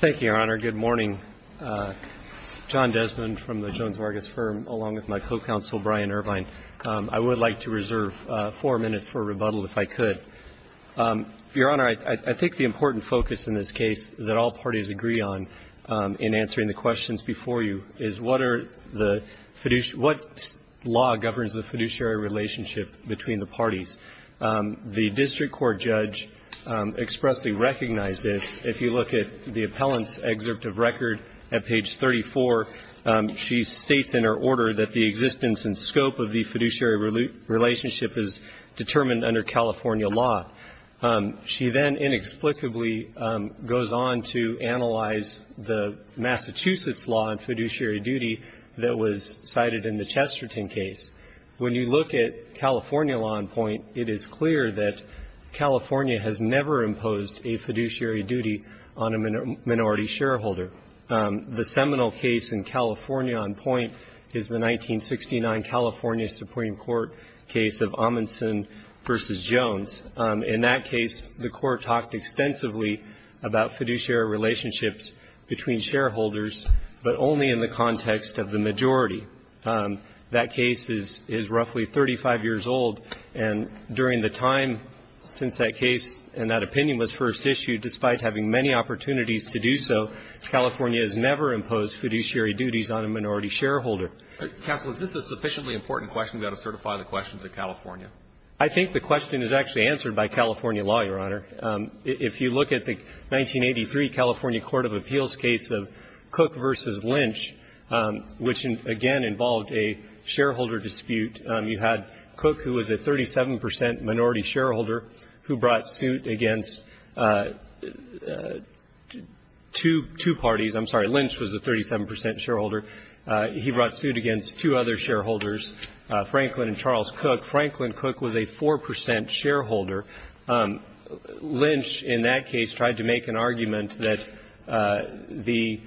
Thank you, Your Honor. Good morning. John Desmond from the Jones Vargas Firm, along with my co-counsel Brian Irvine. I would like to reserve four minutes for rebuttal, if I could. Your Honor, I think the important focus in this case that all parties agree on in answering the questions before you is what law governs the fiduciary relationship between the parties. The district court judge expressly recognized this. If you look at the appellant's excerpt of record at page 34, she states in her order that the existence and scope of the fiduciary relationship is determined under California law. She then inexplicably goes on to analyze the Massachusetts law in fiduciary duty that was cited in the Chesterton case. When you look at California law in point, it is clear that California has never imposed a fiduciary duty on a minority shareholder. The seminal case in California on point is the 1969 California Supreme Court case of Amundson v. Jones. In that case, the Court talked extensively about fiduciary relationships between shareholders, but only in the context of the majority. That case is roughly 35 years old, and during the time since that case and that opinion was first issued, despite having many opportunities to do so, California has never imposed fiduciary duties on a minority shareholder. Counsel, is this a sufficiently important question? We ought to certify the question to California. I think the question is actually answered by California law, Your Honor. If you look at the 1983 California Court of Appeals case of Cook v. Lynch, which, again, involved a shareholder dispute, you had Cook, who was a 37 percent minority shareholder, who brought suit against two parties. I'm sorry. Lynch was a 37 percent shareholder. He brought suit against two other shareholders, Franklin and Charles Cook. Franklin Cook was a 4 percent shareholder. Lynch, in that case, tried to make an argument that the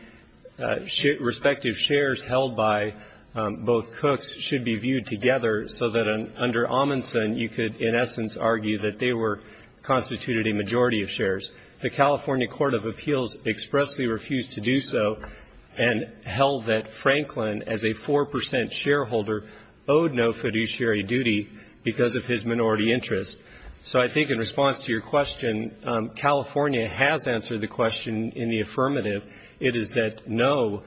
respective shares held by both Cooks should be viewed together so that under Amundson, you could, in essence, argue that they were constituted a majority of shares. The California Court of Appeals expressly refused to do so and held that Franklin, as a 4 percent shareholder, owed no fiduciary duty because of his minority interest. So I think in response to your question, California has answered the question in the affirmative. It is that, no,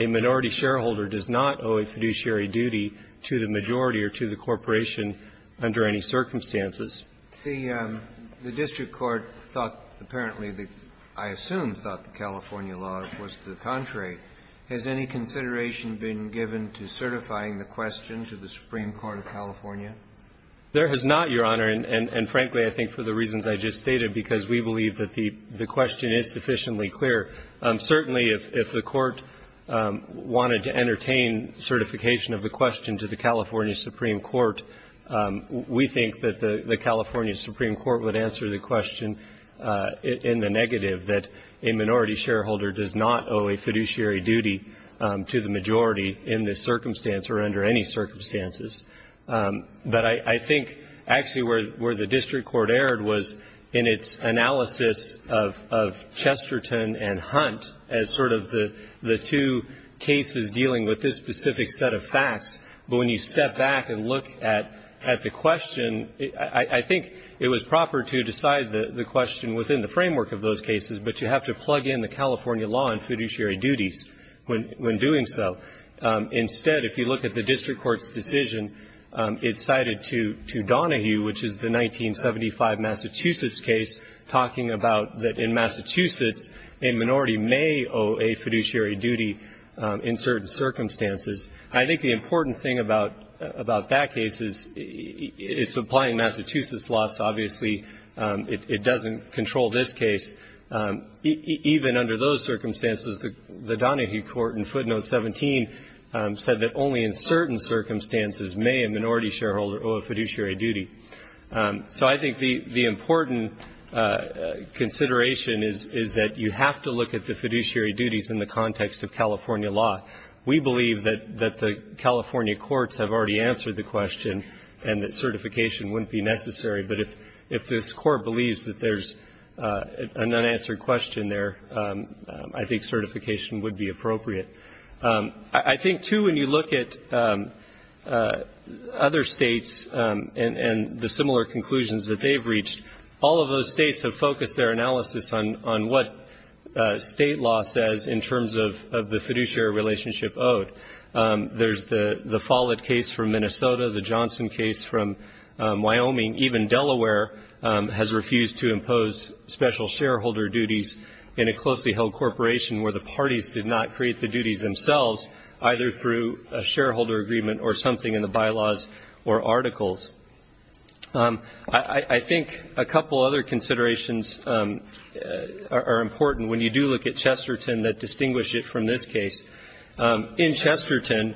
a minority shareholder does not owe a fiduciary duty to the majority or to the corporation under any circumstances. The district court thought, apparently, I assume thought that California law was to the contrary. Has any consideration been given to certifying the question to the Supreme Court of California? There has not, Your Honor, and frankly, I think for the reasons I just stated, because we believe that the question is sufficiently clear. Certainly, if the Court wanted to entertain certification of the question to the California Supreme Court, we think that the California Supreme Court would answer the question in the negative, that a minority shareholder does not owe a fiduciary duty to the majority in this circumstance or under any circumstances. But I think actually where the district court erred was in its analysis of Chesterton and Hunt as sort of the two cases dealing with this specific set of facts. But when you step back and look at the question, I think it was proper to decide the question within the framework of those cases, but you have to plug in the California law and fiduciary duties when doing so. Instead, if you look at the district court's decision, it's cited to Donahue, which is the 1975 Massachusetts case, talking about that in Massachusetts, a minority may owe a fiduciary duty in certain circumstances. I think the important thing about that case is it's applying Massachusetts law, so obviously it doesn't control this case. Even under those circumstances, the Donahue court in footnote 17 said that only in certain circumstances may a minority shareholder owe a fiduciary duty. So I think the important consideration is that you have to look at the fiduciary duties in the context of California law. We believe that the California courts have already answered the question and that is necessary, but if this court believes that there's an unanswered question there, I think certification would be appropriate. I think, too, when you look at other states and the similar conclusions that they've reached, all of those states have focused their analysis on what state law says in terms of the fiduciary relationship owed. There's the Follett case from Minnesota, the Johnson case from Wyoming. Even Delaware has refused to impose special shareholder duties in a closely held corporation where the parties did not create the duties themselves, either through a shareholder agreement or something in the bylaws or articles. I think a couple other considerations are important when you do look at Chesterton that distinguish it from this case. In Chesterton,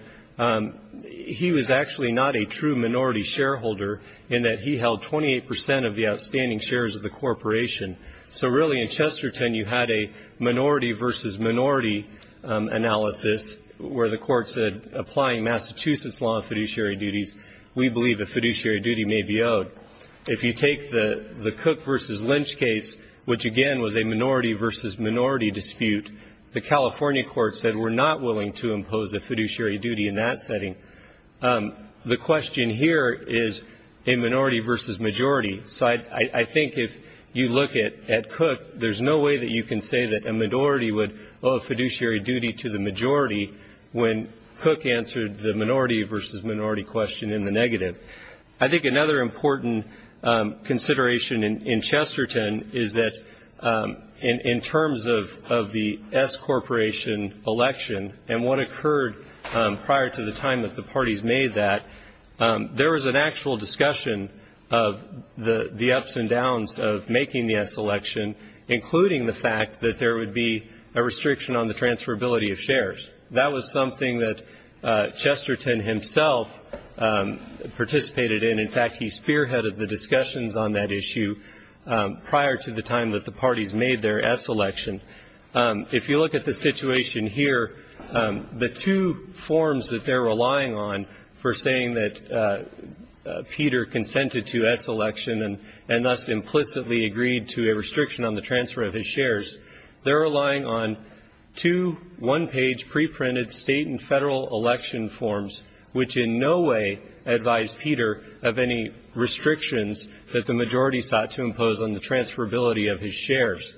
he was actually not a true minority shareholder in that he held 28 percent of the outstanding shares of the corporation. So, really, in Chesterton you had a minority versus minority analysis where the court said applying Massachusetts law fiduciary duties, we believe the fiduciary duty may be owed. If you take the Cook versus Lynch case, which, again, was a minority versus minority dispute, the California court said we're not willing to impose a fiduciary duty in that setting. The question here is a minority versus majority. So I think if you look at Cook, there's no way that you can say that a minority would owe a fiduciary duty to the majority when Cook answered the minority versus minority question in the negative. I think another important consideration in Chesterton is that in terms of the S Corporation election and what occurred prior to the time that the parties made that, there was an actual discussion of the ups and downs of making the S election, including the fact that there would be a restriction on the transferability of shares. That was something that Chesterton himself participated in. In fact, he spearheaded the discussions on that issue prior to the time that the parties made their S election. If you look at the situation here, the two forms that they're relying on for saying that Peter consented to S election and thus implicitly agreed to a restriction on the transfer of his shares, they're relying on two one-page preprinted state and federal election forms, which in no way advise Peter of any restrictions that the majority sought to impose on the transferability of his shares.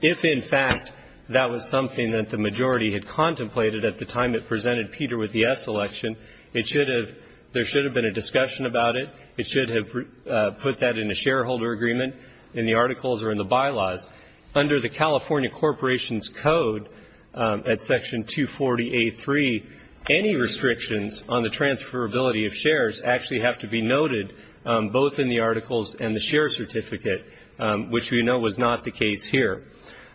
If, in fact, that was something that the majority had contemplated at the time it presented Peter with the S election, there should have been a discussion about it. It should have put that in a shareholder agreement in the articles or in the bylaws. Under the California Corporation's Code at Section 240A3, any restrictions on the transferability of shares actually have to be noted, both in the articles and the share certificate, which we know was not the case here.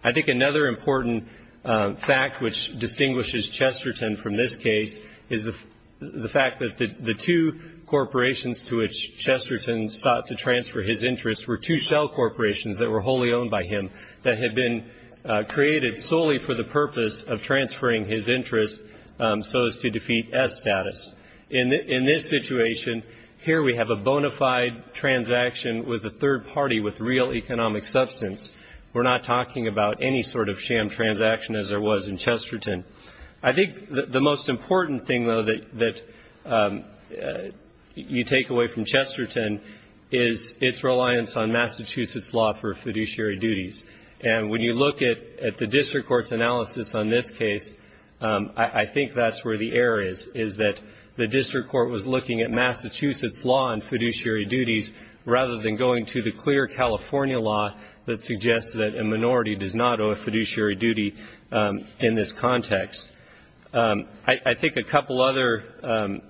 I think another important fact which distinguishes Chesterton from this case is the fact that the two corporations to which Chesterton sought to transfer his interest were two shell corporations that were wholly owned by him that had been created solely for the purpose of transferring his interest so as to defeat S status. In this situation, here we have a bona fide transaction with a third party with real economic substance. We're not talking about any sort of sham transaction as there was in Chesterton. I think the most important thing, though, that you take away from Chesterton is its reliance on Massachusetts law for fiduciary duties. And when you look at the district court's analysis on this case, I think that's where the error is, is that the district court was looking at Massachusetts law and fiduciary duties rather than going to the clear California law that suggests that a minority does not owe a fiduciary duty in this context. I think a couple other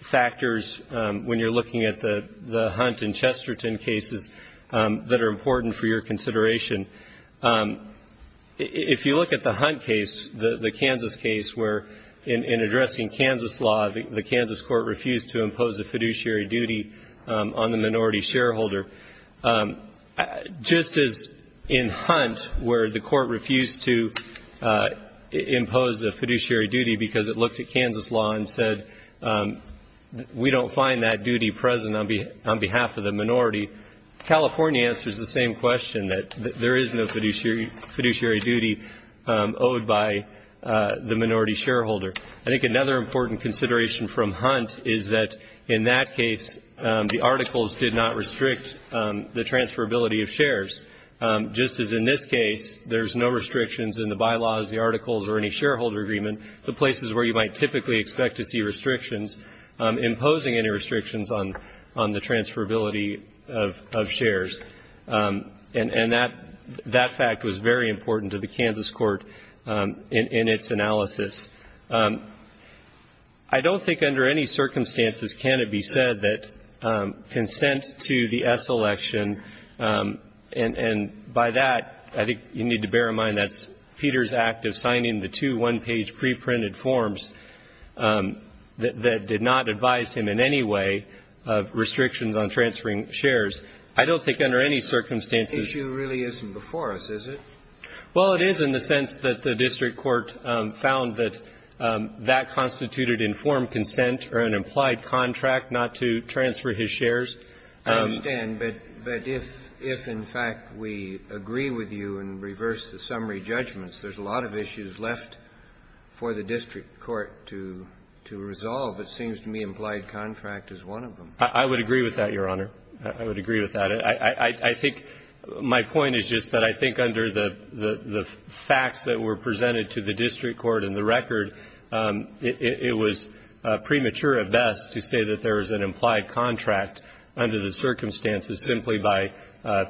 factors when you're looking at the Hunt and Chesterton cases that are important for your consideration. If you look at the Hunt case, the Kansas case, where in addressing Kansas law, the Kansas court refused to impose a fiduciary duty on the minority shareholder, just as in Hunt, where the court refused to impose a fiduciary duty because it looked at Kansas law and said we don't find that duty present on behalf of the minority, California answers the same question, that there is no fiduciary duty owed by the minority shareholder. I think another important consideration from Hunt is that in that case, the articles did not restrict the transferability of shares, just as in this case, there's no restrictions in the bylaws, the articles, or any shareholder agreement, the places where you might typically expect to see restrictions imposing any restrictions on the transferability of shares. And that fact was very important to the Kansas court in its analysis. I don't think under any circumstances can it be said that consent to the S election and by that, I think you need to bear in mind that's Peter's act of signing the two one-page preprinted forms that did not advise him in any way of restrictions on transferring shares. I don't think under any circumstances ---- The issue really isn't before us, is it? Well, it is in the sense that the district court found that that constituted informed consent or an implied contract not to transfer his shares. I understand. But if in fact we agree with you and reverse the summary judgments, there's a lot of issues left for the district court to resolve. It seems to me implied contract is one of them. I would agree with that, Your Honor. I would agree with that. I think my point is just that I think under the facts that were presented to the district court and the record, it was premature at best to say that there was an implied contract under the circumstances simply by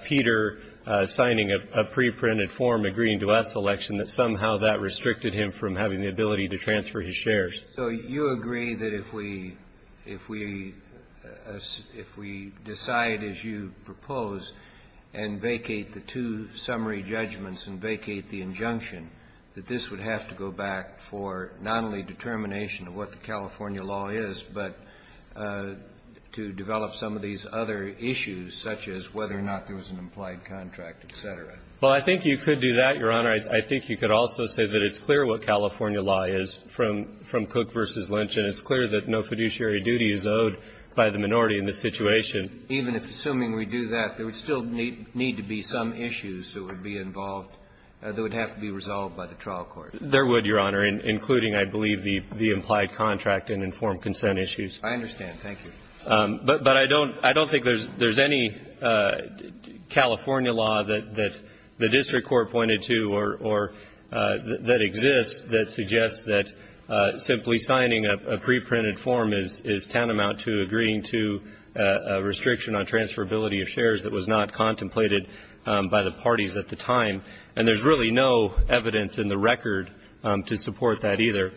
Peter signing a preprinted form agreeing to S election that somehow that restricted him from having the ability to transfer his shares. So you agree that if we decide, as you propose, and vacate the two summary judgments and vacate the injunction, that this would have to go back for not only determination of what the California law is, but to develop some of these other issues, such as whether or not there was an implied contract, et cetera? Well, I think you could do that, Your Honor. I think you could also say that it's clear what California law is from Cook v. Lynch. And it's clear that no fiduciary duty is owed by the minority in this situation. Even if, assuming we do that, there would still need to be some issues that would be involved that would have to be resolved by the trial court. There would, Your Honor, including, I believe, the implied contract and informed consent issues. I understand. Thank you. But I don't think there's any California law that the district court pointed to or that exists that suggests that simply signing a preprinted form is tantamount to agreeing to a restriction on transferability of shares that was not contemplated by the parties at the time. And there's really no evidence in the record to support that either.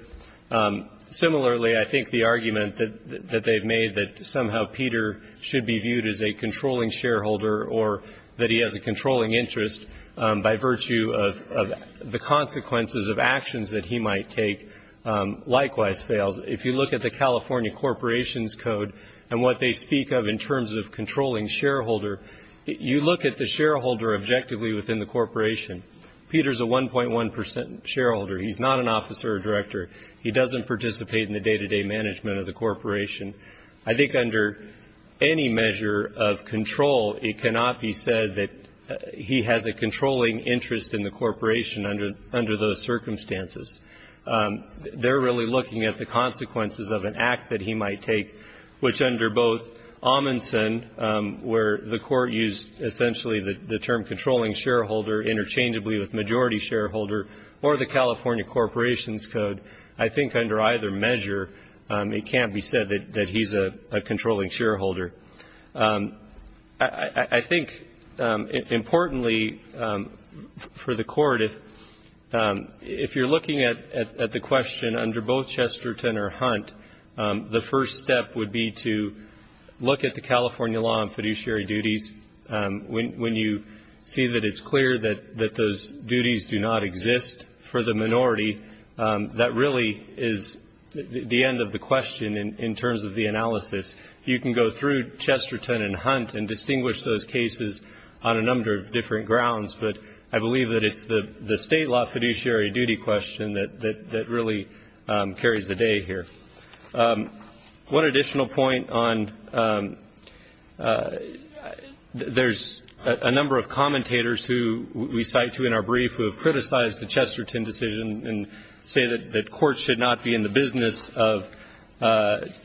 Similarly, I think the argument that they've made that somehow Peter should be viewed as a controlling shareholder or that he has a controlling interest by virtue of the consequences of actions that he might take likewise fails. If you look at the California Corporations Code and what they speak of in terms of controlling shareholder, you look at the shareholder objectively within the corporation. Peter's a 1.1 percent shareholder. He's not an officer or director. He doesn't participate in the day-to-day management of the corporation. I think under any measure of control, it cannot be said that he has a controlling interest in the corporation under those circumstances. They're really looking at the consequences of an act that he might take, which under both Amundsen, where the court used essentially the term controlling shareholder interchangeably with majority shareholder, or the California Corporations Code, I think under either measure it can't be said that he's a controlling shareholder. I think importantly for the Court, if you're looking at the question under both Chesterton or Hunt, the first step would be to look at the California law on fiduciary duties. When you see that it's clear that those duties do not exist for the minority, that really is the end of the question in terms of the analysis. You can go through Chesterton and Hunt and distinguish those cases on a number of different grounds, but I believe that it's the state law fiduciary duty question that really carries the day here. One additional point on ‑‑ there's a number of commentators who we cite to in our brief who have criticized the Chesterton decision and say that courts should not be in the business of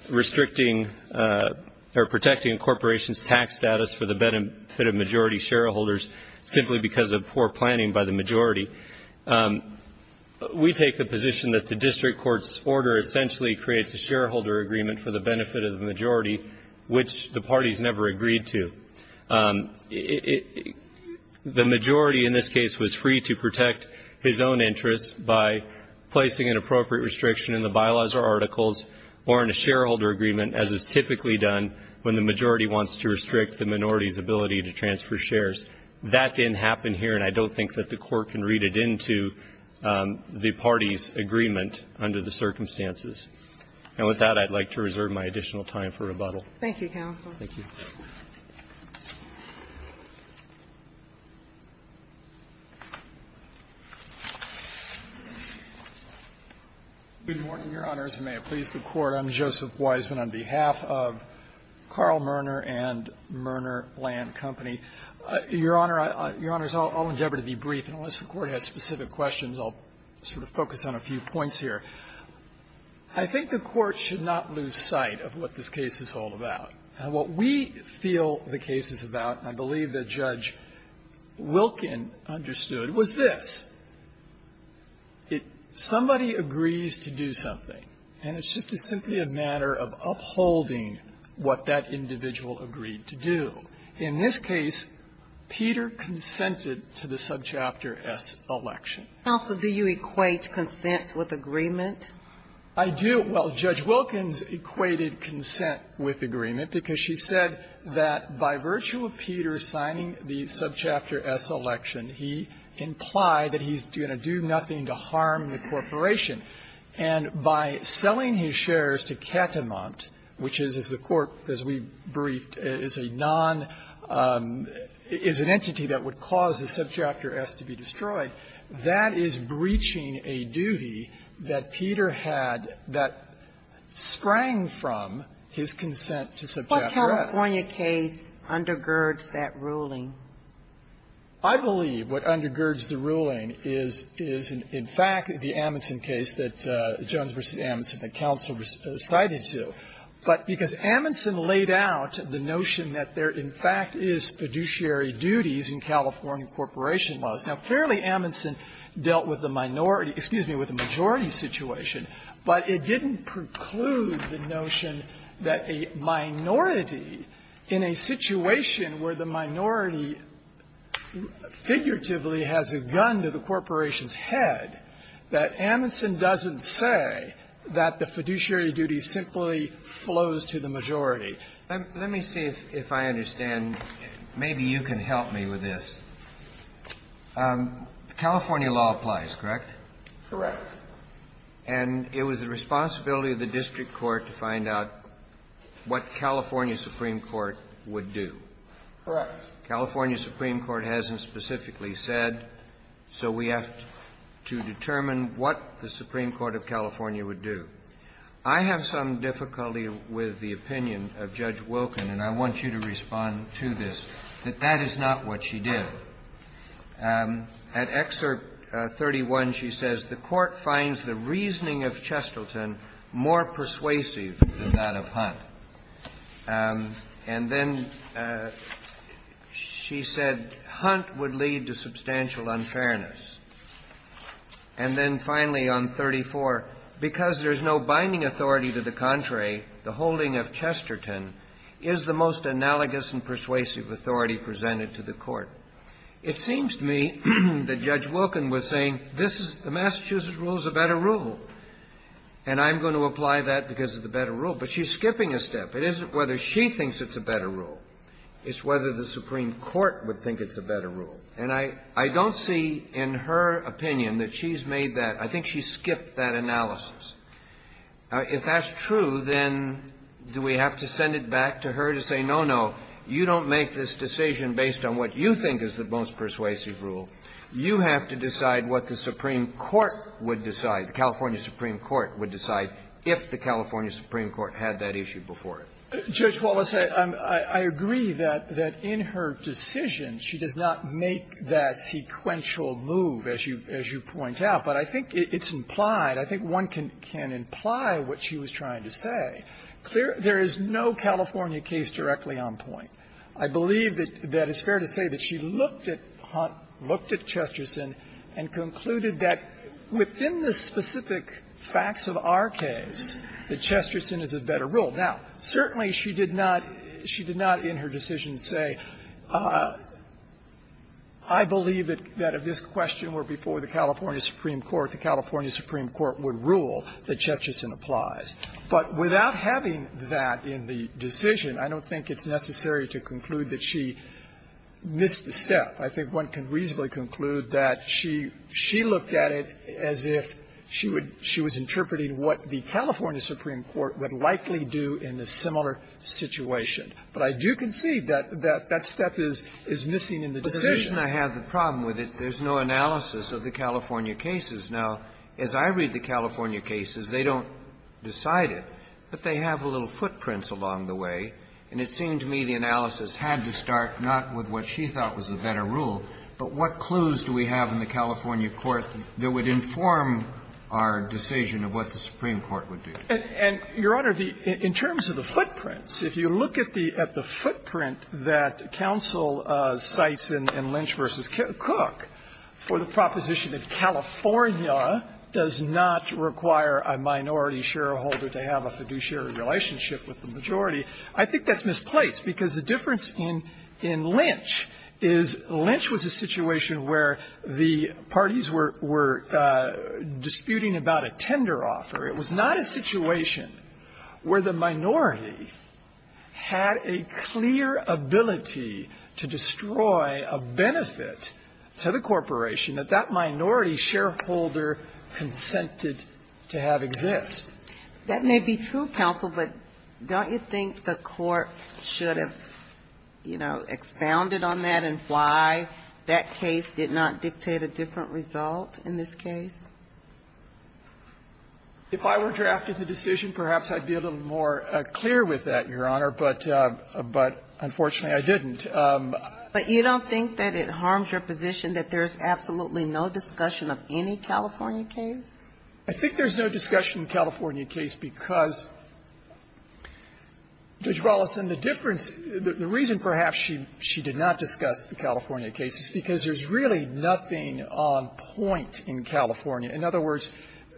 restricting or protecting a corporation's tax status for the benefit of majority shareholders simply because of poor planning by the majority. We take the position that the district court's order essentially creates a shareholder agreement for the benefit of the majority, which the parties never agreed to. The majority in this case was free to protect his own interests by placing an appropriate restriction in the bylaws or articles or in a shareholder agreement as is typically done when the majority wants to restrict the minority's ability to transfer shares. That didn't happen here, and I don't think that the Court can read it into the parties' agreement under the circumstances. And with that, I'd like to reserve my additional time for rebuttal. Thank you, counsel. Thank you. Good morning, Your Honors, and may it please the Court. I'm Joseph Weisman on behalf of Carl Merner and Merner Land Company. Your Honor, I'll endeavor to be brief. Unless the Court has specific questions, I'll sort of focus on a few points here. I think the Court should not lose sight of what this case is all about. What we feel the case is about, and I believe that Judge Wilkin understood, was this. Somebody agrees to do something, and it's just simply a matter of upholding what that individual agreed to do. In this case, Peter consented to the Subchapter S election. Counsel, do you equate consent with agreement? I do. Well, Judge Wilkins equated consent with agreement because she said that by virtue of Peter signing the Subchapter S election, he implied that he's going to do nothing to harm the corporation. And by selling his shares to Katamont, which is, as the Court, as we briefed, is a non-is an entity that would cause the Subchapter S to be destroyed, that is breaching a duty that Peter had that sprang from his consent to Subchapter S. What California case undergirds that ruling? I believe what undergirds the ruling is, is, in fact, the Amundsen case that Jones v. Amundsen that counsel recited to. But because Amundsen laid out the notion that there, in fact, is fiduciary duties in California corporation laws. Now, clearly, Amundsen dealt with the minority — excuse me, with the majority situation, but it didn't preclude the notion that a minority in a situation where the minority figuratively has a gun to the corporation's head, that Amundsen doesn't say that the fiduciary duty simply flows to the majority. Let me see if I understand. Maybe you can help me with this. California law applies, correct? Correct. And it was the responsibility of the district court to find out what California Supreme Court would do. Correct. California Supreme Court hasn't specifically said, so we have to determine what the Supreme Court of California would do. I have some difficulty with the opinion of Judge Wilken, and I want you to respond to this, that that is not what she did. At Excerpt 31, she says, The Court finds the reasoning of Chesterton more persuasive than that of Hunt. And then she said, Hunt would lead to substantial unfairness. And then finally, on 34, because there's no binding authority to the contrary, the holding of Chesterton is the most analogous and persuasive authority presented to the Court. It seems to me that Judge Wilken was saying, this is the Massachusetts rule is a better rule, and I'm going to apply that because of the better rule. But she's skipping a step. It isn't whether she thinks it's a better rule. It's whether the Supreme Court would think it's a better rule. And I don't see in her opinion that she's made that. I think she skipped that analysis. If that's true, then do we have to send it back to her to say, no, no, you don't make this decision based on what you think is the most persuasive rule. You have to decide what the Supreme Court would decide, the California Supreme Court would decide, if the California Supreme Court had that issue before it. Piotrowski, I agree that in her decision, she does not make that sequential move, as you point out. But I think it's implied, I think one can imply what she was trying to say. There is no California case directly on point. I believe that it's fair to say that she looked at Hunt, looked at Chesterton, and concluded that within the specific facts of our case, that Chesterton is a better rule. Now, certainly she did not, she did not in her decision say, I believe that if this question were before the California Supreme Court, the California Supreme Court would rule that Chesterton applies. But without having that in the decision, I don't think it's necessary to conclude that she missed the step. I think one can reasonably conclude that she looked at it as if she would, she was interpreting what the California Supreme Court would likely do in a similar situation. But I do concede that that step is missing in the decision. Kennedy, I have a problem with it. There's no analysis of the California cases. Now, as I read the California cases, they don't decide it, but they have a little footprint along the way. And it seemed to me the analysis had to start not with what she thought was the better rule, but what clues do we have in the California court that would inform our decision of what the Supreme Court would do? And, Your Honor, in terms of the footprints, if you look at the footprint that counsel cites in Lynch v. Cook for the proposition that California does not require a minority shareholder to have a fiduciary relationship with the majority, I think that's misplaced, because the difference in Lynch is Lynch was a situation where the parties were disputing about a tender offer. It was not a situation where the minority had a clear ability to dispute a bid, to destroy a benefit to the corporation that that minority shareholder consented to have exist. That may be true, counsel, but don't you think the Court should have, you know, expounded on that and why that case did not dictate a different result in this case? If I were drafted the decision, perhaps I'd be a little more clear with that, Your Honor, but unfortunately, I didn't. But you don't think that it harms your position that there's absolutely no discussion of any California case? I think there's no discussion of the California case because, Judge Wallace, and the difference, the reason perhaps she did not discuss the California case is because there's really nothing on point in California. In other words,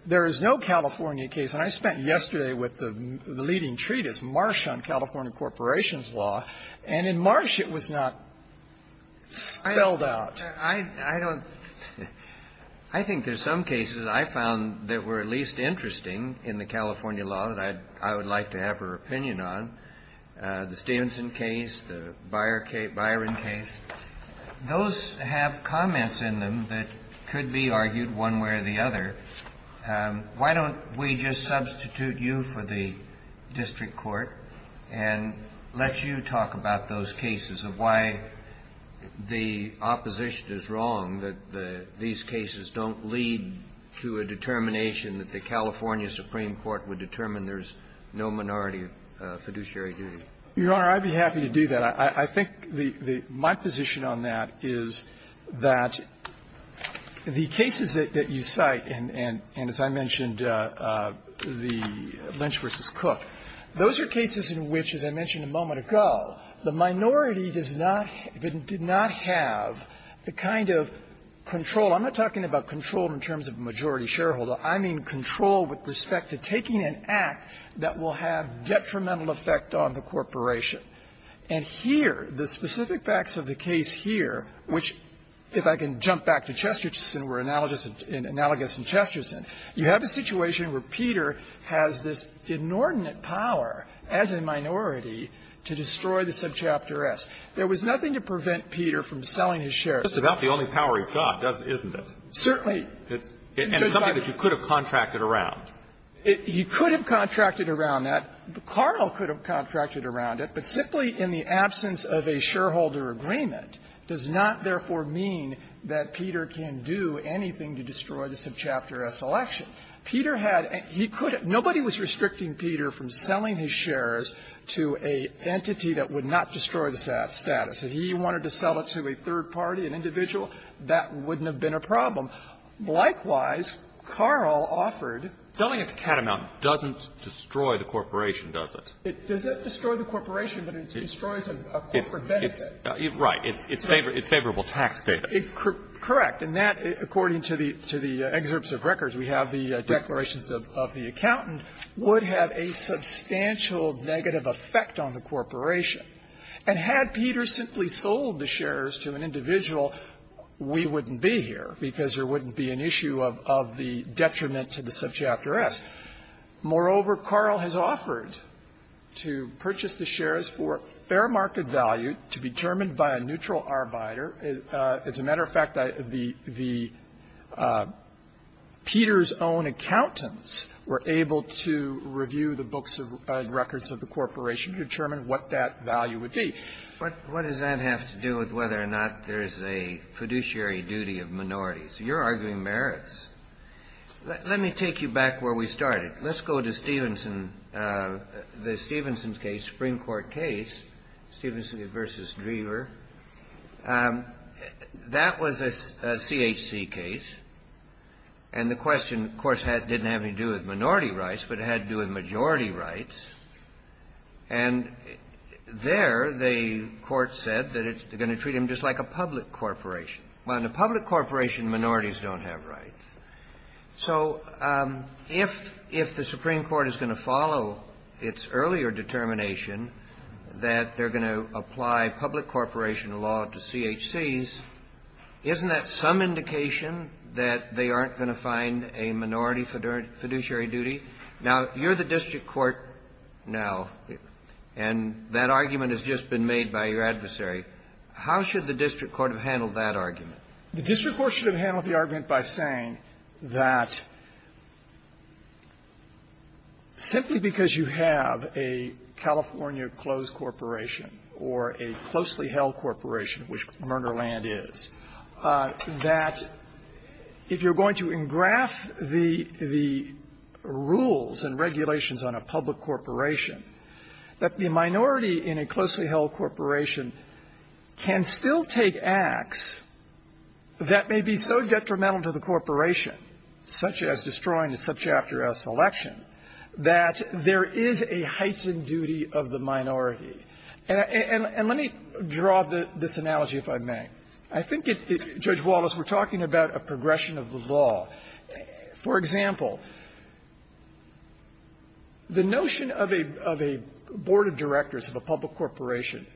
there is no California case. And I spent yesterday with the leading treatise, Marsh on California corporations law, and in Marsh, it was not spelled out. I don't – I think there's some cases I found that were at least interesting in the California law that I would like to have her opinion on, the Stevenson case, the Byron case. Those have comments in them that could be argued one way or the other. But why don't we just substitute you for the district court and let you talk about those cases of why the opposition is wrong, that these cases don't lead to a determination that the California Supreme Court would determine there's no minority fiduciary duty? Your Honor, I'd be happy to do that. But I think the – my position on that is that the cases that you cite, and as I mentioned, the Lynch v. Cook, those are cases in which, as I mentioned a moment ago, the minority does not – did not have the kind of control. I'm not talking about control in terms of majority shareholder. I mean control with respect to taking an act that will have detrimental effect on the corporation. And here, the specific facts of the case here, which, if I can jump back to Chesterton where analogous in – analogous in Chesterton, you have a situation where Peter has this inordinate power as a minority to destroy the subchapter S. There was nothing to prevent Peter from selling his shares. It's about the only power he's got, isn't it? Certainly. And something that you could have contracted around. He could have contracted around that. Carl could have contracted around it. But simply in the absence of a shareholder agreement does not, therefore, mean that Peter can do anything to destroy the subchapter S. election. Peter had – he could have – nobody was restricting Peter from selling his shares to an entity that would not destroy the status. If he wanted to sell it to a third party, an individual, that wouldn't have been a problem. Likewise, Carl offered – The fact that Peter's share amount doesn't destroy the corporation, does it? It doesn't destroy the corporation, but it destroys a corporate benefit. Right. It's favorable tax status. Correct. And that, according to the excerpts of records, we have the declarations of the accountant, would have a substantial negative effect on the corporation. And had Peter simply sold the shares to an individual, we wouldn't be here because there wouldn't be an issue of the detriment to the subchapter S. Moreover, Carl has offered to purchase the shares for fair market value to be determined by a neutral arbiter. As a matter of fact, the – Peter's own accountants were able to review the books and records of the corporation to determine what that value would be. What does that have to do with whether or not there's a fiduciary duty of minorities? You're arguing merits. Let me take you back where we started. Let's go to Stevenson – the Stevenson case, Supreme Court case, Stevenson v. Drever. That was a CHC case. And the question, of course, didn't have anything to do with minority rights, but it had to do with majority rights. And there, the court said that it's going to treat them just like a public corporation. Well, in a public corporation, minorities don't have rights. So if the Supreme Court is going to follow its earlier determination that they're going to apply public corporation law to CHCs, isn't that some indication that they aren't going to find a minority fiduciary duty? Now, you're the district court now, and that argument has just been made by your adversary. How should the district court have handled that argument? The district court should have handled the argument by saying that simply because you have a California closed corporation or a closely held corporation, which Merner Land is, that if you're going to engraft the rules and regulations on a public corporation, that the minority in a closely held corporation can still take acts that may be so detrimental to the corporation, such as destroying a subchapter S election, that there is a heightened duty of the minority. And let me draw this analogy, if I may. I think, Judge Wallace, we're talking about a progression of the law. For example, the notion of a board of directors of a public corporation,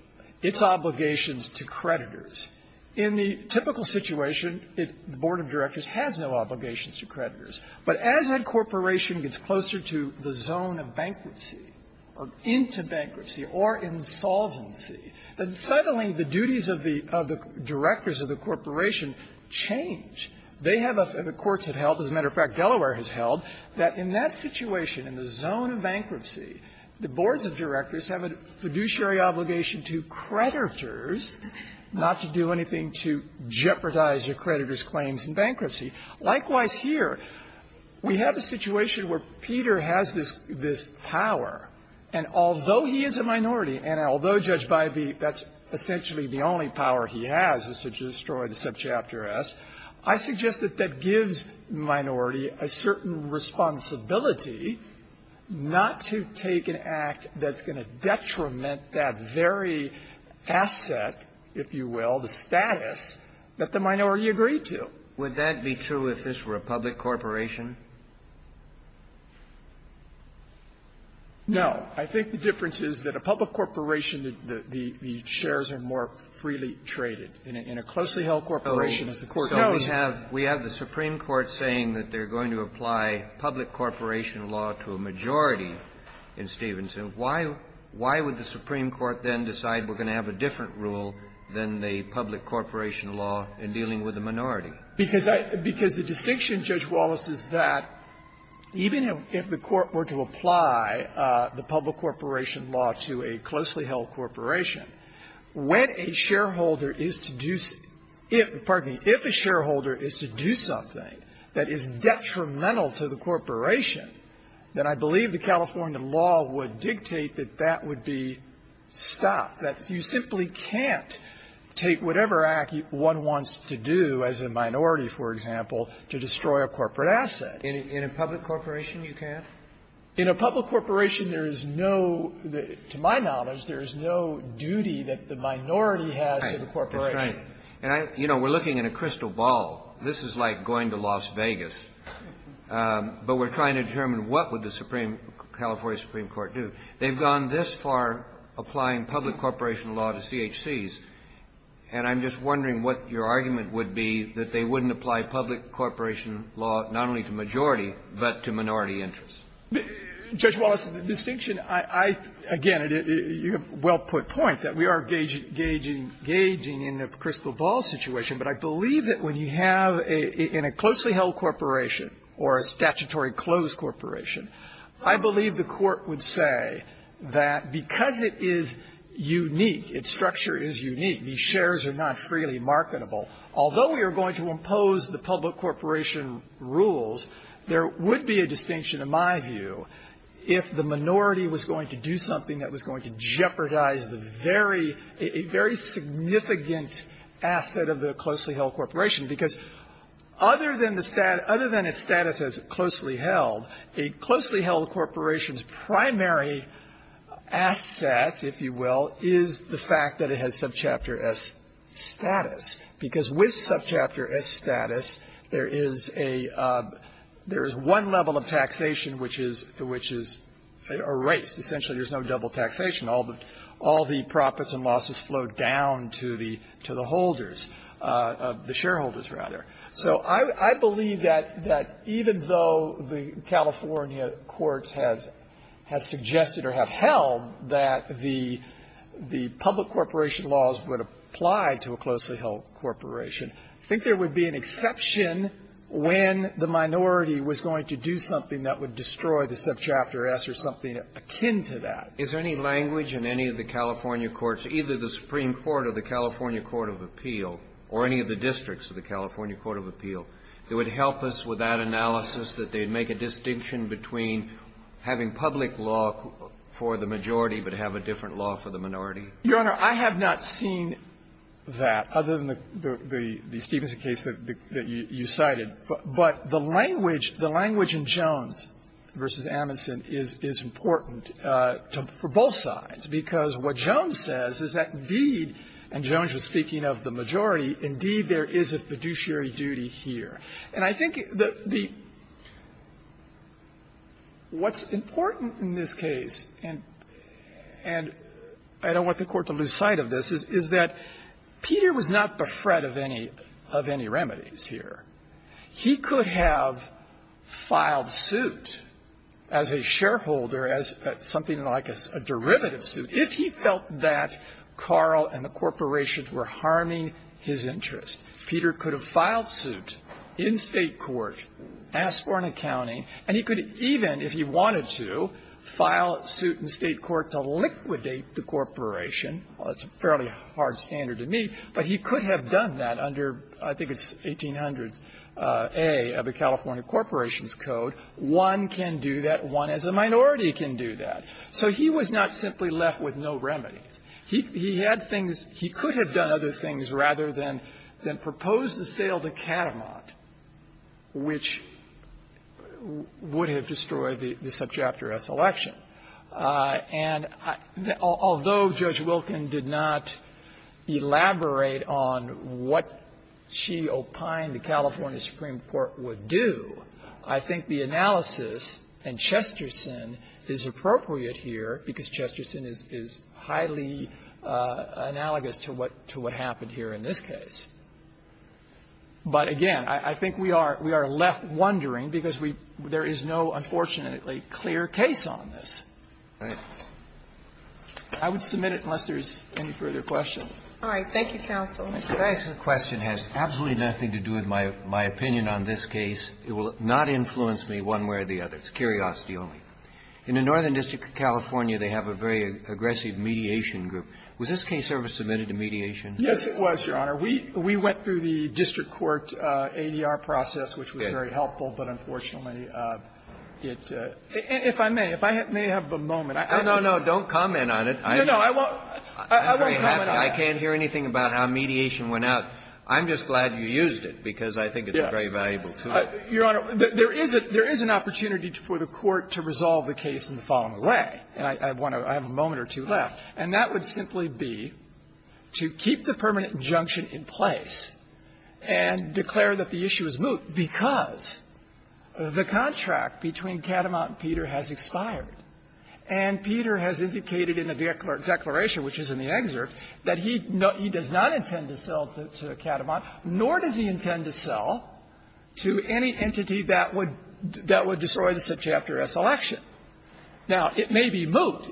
its obligations to creditors. In the typical situation, the board of directors has no obligations to creditors. But as that corporation gets closer to the zone of bankruptcy or into bankruptcy or insolvency, suddenly the duties of the directors of the corporation change. They have a – the courts have held, as a matter of fact, Delaware has held, that in that situation, in the zone of bankruptcy, the boards of directors have a fiduciary obligation to creditors not to do anything to jeopardize the creditors' claims in bankruptcy. Likewise, here, we have a situation where Peter has this – this power, and although he is a minority and although, Judge Bybee, that's essentially the only power he has is to destroy the subchapter S, I suggest that that gives the minority a certain responsibility not to take an act that's going to detriment that very asset, if you will, the status, that the minority agreed to. Would that be true if this were a public corporation? No. I think the difference is that a public corporation, the – the shares are more freely traded. In a – in a closely held corporation, as the Court knows… Kennedy, so we have – we have the Supreme Court saying that they're going to apply public corporation law to a majority in Stevenson. Why – why would the Supreme Court then decide we're going to have a different rule than the public corporation law in dealing with a minority? Because I – because the distinction, Judge Wallace, is that even if the Court were to apply the public corporation law to a closely held corporation, when a shareholder is to do – if – pardon me – if a shareholder is to do something that is detrimental to the corporation, then I believe the California law would dictate that that would be stopped, that you simply can't take whatever act one wants to do as a minority, for example, to destroy a corporate asset. In a public corporation, you can't? In a public corporation, there is no – to my knowledge, there is no duty that the corporation. And I – you know, we're looking at a crystal ball. This is like going to Las Vegas. But we're trying to determine what would the Supreme – California Supreme Court do. They've gone this far applying public corporation law to CHCs, and I'm just wondering what your argument would be that they wouldn't apply public corporation law not only to majority, but to minority interests. Judge Wallace, the distinction I – I – again, you have well put point that we are gauging – gauging in the crystal ball situation, but I believe that when you have a – in a closely held corporation or a statutory closed corporation, I believe the Court would say that because it is unique, its structure is unique, these shares are not freely marketable, although we are going to impose the public corporation rules, there would be a distinction, in my view, if the minority was going to do something that was going to jeopardize the very – a very significant asset of the closely held corporation. Because other than the – other than its status as closely held, a closely held corporation's primary asset, if you will, is the fact that it has subchapter S status. Because with subchapter S status, there is a – there is one level of taxation which is – which is erased. Essentially, there is no double taxation. All the – all the profits and losses flowed down to the – to the holders, the shareholders, rather. So I believe that – that even though the California courts have – have suggested or have held that the – the public corporation laws would apply to a closely held corporation, I think there would be an exception when the minority was going to do something that would destroy the subchapter S or something akin to that. Is there any language in any of the California courts, either the Supreme Court or the California Court of Appeal, or any of the districts of the California Court of Appeal, that would help us with that analysis, that they'd make a distinction between having public law for the majority but have a different law for the minority? Your Honor, I have not seen that, other than the – the Stevenson case that you cited. But the language – the language in Jones v. Amundsen is – is important for both sides, because what Jones says is that, indeed, and Jones was speaking of the majority, indeed, there is a fiduciary duty here. And I think the – the – what's important in this case, and – and I don't want the Court to lose sight of this, is – is that Peter was not befret of any – of any remedies here. He could have filed suit as a shareholder, as something like a – a derivative suit, if he felt that Carl and the corporations were harming his interest. Peter could have filed suit in State court, asked for an accounting, and he could even, if he wanted to, file suit in State court to liquidate the corporation. Well, that's a fairly hard standard to meet. But he could have done that under, I think it's 1800s A of the California Corporations Code. One can do that. One as a minority can do that. So he was not simply left with no remedies. He – he had things – he could have done other things rather than – than propose the sale to Katamont, which would have destroyed the – the subjactor S election. And although Judge Wilken did not elaborate on what she opined the California Supreme Court would do, I think the analysis in Chesterson is appropriate here, because Chesterson is – is highly analogous to what – to what happened here in this case. But again, I think we are – we are left wondering, because we – there is no, unfortunately, absolutely clear case on this. Roberts. I would submit it unless there is any further questions. All right. Thank you, counsel. Thank you. The question has absolutely nothing to do with my – my opinion on this case. It will not influence me one way or the other. It's curiosity only. In the Northern District of California, they have a very aggressive mediation group. Was this case ever submitted to mediation? Yes, it was, Your Honor. We – we went through the district court ADR process, which was very helpful. But unfortunately, it – if I may, if I may have a moment. No, no, don't comment on it. No, no, I won't – I won't comment on it. I can't hear anything about how mediation went out. I'm just glad you used it, because I think it's a very valuable tool. Your Honor, there is a – there is an opportunity for the Court to resolve the case in the following way. And I want to – I have a moment or two left. And that would simply be to keep the permanent injunction in place and declare that the issue is moot, because the contract between Katamont and Peter has expired. And Peter has indicated in the declaration, which is in the excerpt, that he does not intend to sell to Katamont, nor does he intend to sell to any entity that would – that would destroy the Subchapter S election. Now, it may be moot.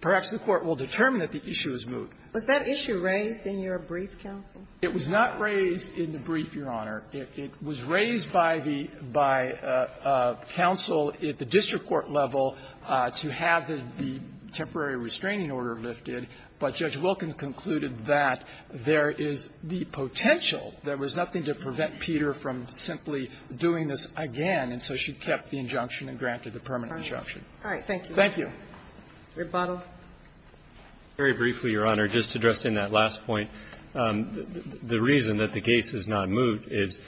Perhaps the Court will determine that the issue is moot. Was that issue raised in your brief, counsel? It was not raised in the brief, Your Honor. It was raised by the – by counsel at the district court level to have the temporary restraining order lifted, but Judge Wilken concluded that there is the potential. There was nothing to prevent Peter from simply doing this again. And so she kept the injunction and granted the permanent injunction. All right. Thank you. Thank you. Rebuttal. Very briefly, Your Honor, just to dress in that last point. The reason that the case is not moot is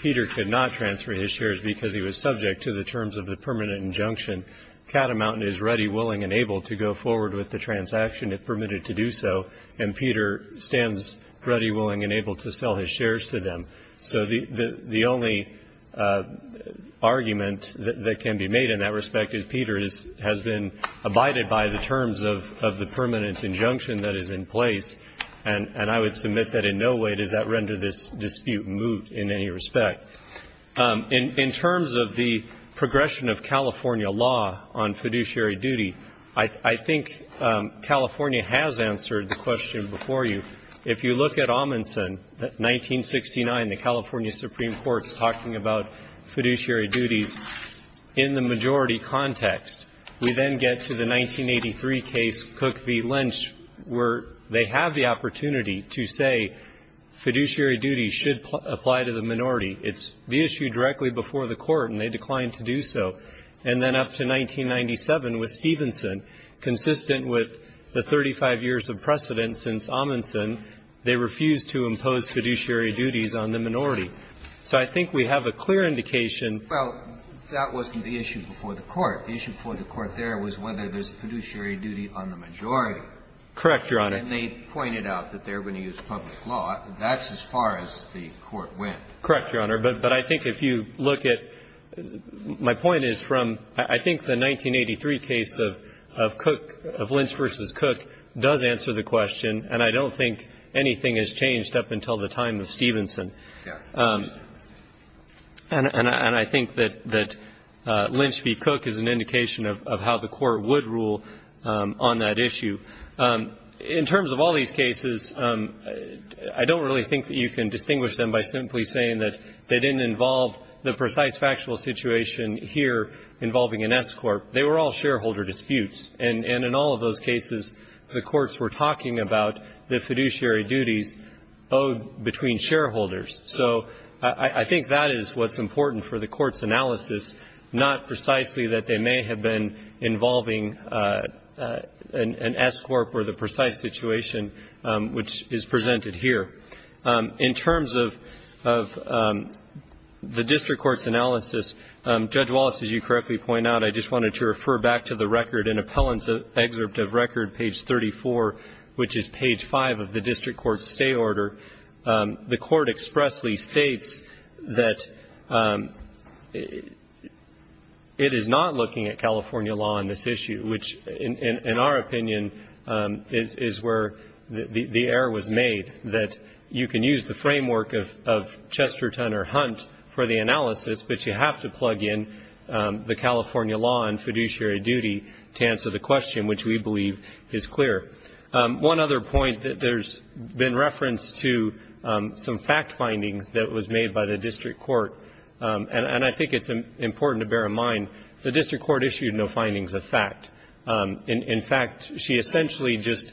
Peter could not transfer his shares because he was subject to the terms of the permanent injunction. Katamont is ready, willing, and able to go forward with the transaction if permitted to do so, and Peter stands ready, willing, and able to sell his shares to them. So the only argument that can be made in that respect is Peter has been abided by the terms of the permanent injunction that is in place. And I would submit that in no way does that render this dispute moot in any respect. In terms of the progression of California law on fiduciary duty, I think California has answered the question before you. If you look at Amundsen, 1969, the California Supreme Court's talking about fiduciary duties in the majority context, we then get to the 1983 case, Cook v. Lynch, where they have the opportunity to say fiduciary duties should apply to the minority. It's the issue directly before the Court, and they declined to do so. And then up to 1997 with Stevenson, consistent with the 35 years of precedence since Amundsen, they refused to impose fiduciary duties on the minority. So I think we have a clear indication. Well, that wasn't the issue before the Court. The issue before the Court there was whether there's fiduciary duty on the majority. Correct, Your Honor. And they pointed out that they're going to use public law. That's as far as the Court went. Correct, Your Honor. But I think if you look at my point is from I think the 1983 case of Cook, of Lynch v. Cook, does answer the question, and I don't think anything has changed up until the time of Stevenson. And I think that Lynch v. Cook is an indication of how the Court would rule on that issue. In terms of all these cases, I don't really think that you can distinguish them by simply saying that they didn't involve the precise factual situation here involving an S-corp. They were all shareholder disputes. And in all of those cases, the courts were talking about the fiduciary duties owed between shareholders. So I think that is what's important for the Court's analysis, not precisely that they may have been involving an S-corp or the precise situation which is presented here. In terms of the district court's analysis, Judge Wallace, as you correctly point out, I just wanted to refer back to the record, an appellant's excerpt of record, page 34, which is page 5 of the district court's stay order. I'm not looking at California law on this issue, which, in our opinion, is where the error was made, that you can use the framework of Chesterton or Hunt for the analysis, but you have to plug in the California law on fiduciary duty to answer the question, which we believe is clear. One other point that there's been reference to some fact-finding that was made by the district court is that the district court issued no findings of fact. In fact, she essentially just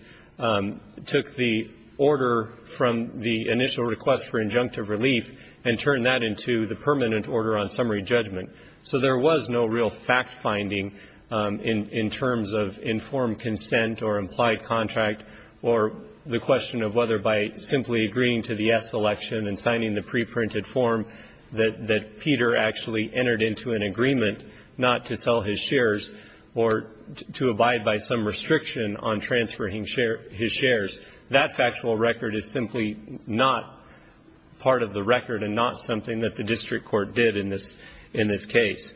took the order from the initial request for injunctive relief and turned that into the permanent order on summary judgment. So there was no real fact-finding in terms of informed consent or implied contract or the question of whether by simply agreeing to the S election and signing the preprinted form that Peter actually entered into an agreement not to sell his shares or to abide by some restriction on transferring his shares. That factual record is simply not part of the record and not something that the district court did in this case.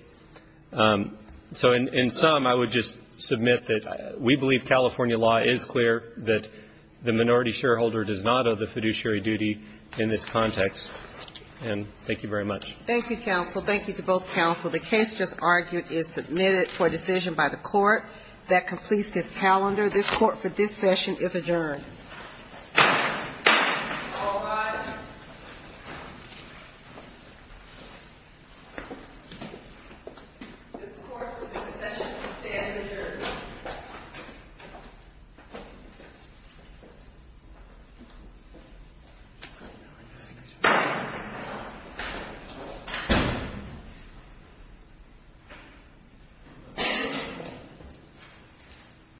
So in sum, I would just submit that we believe California law is clear that the minority shareholder does not owe the fiduciary duty in this context. And thank you very much. Thank you, counsel. Thank you to both counsel. The case just argued is submitted for decision by the court. That completes this calendar. This court for this session is adjourned. All rise. This court for this session is standing adjourned.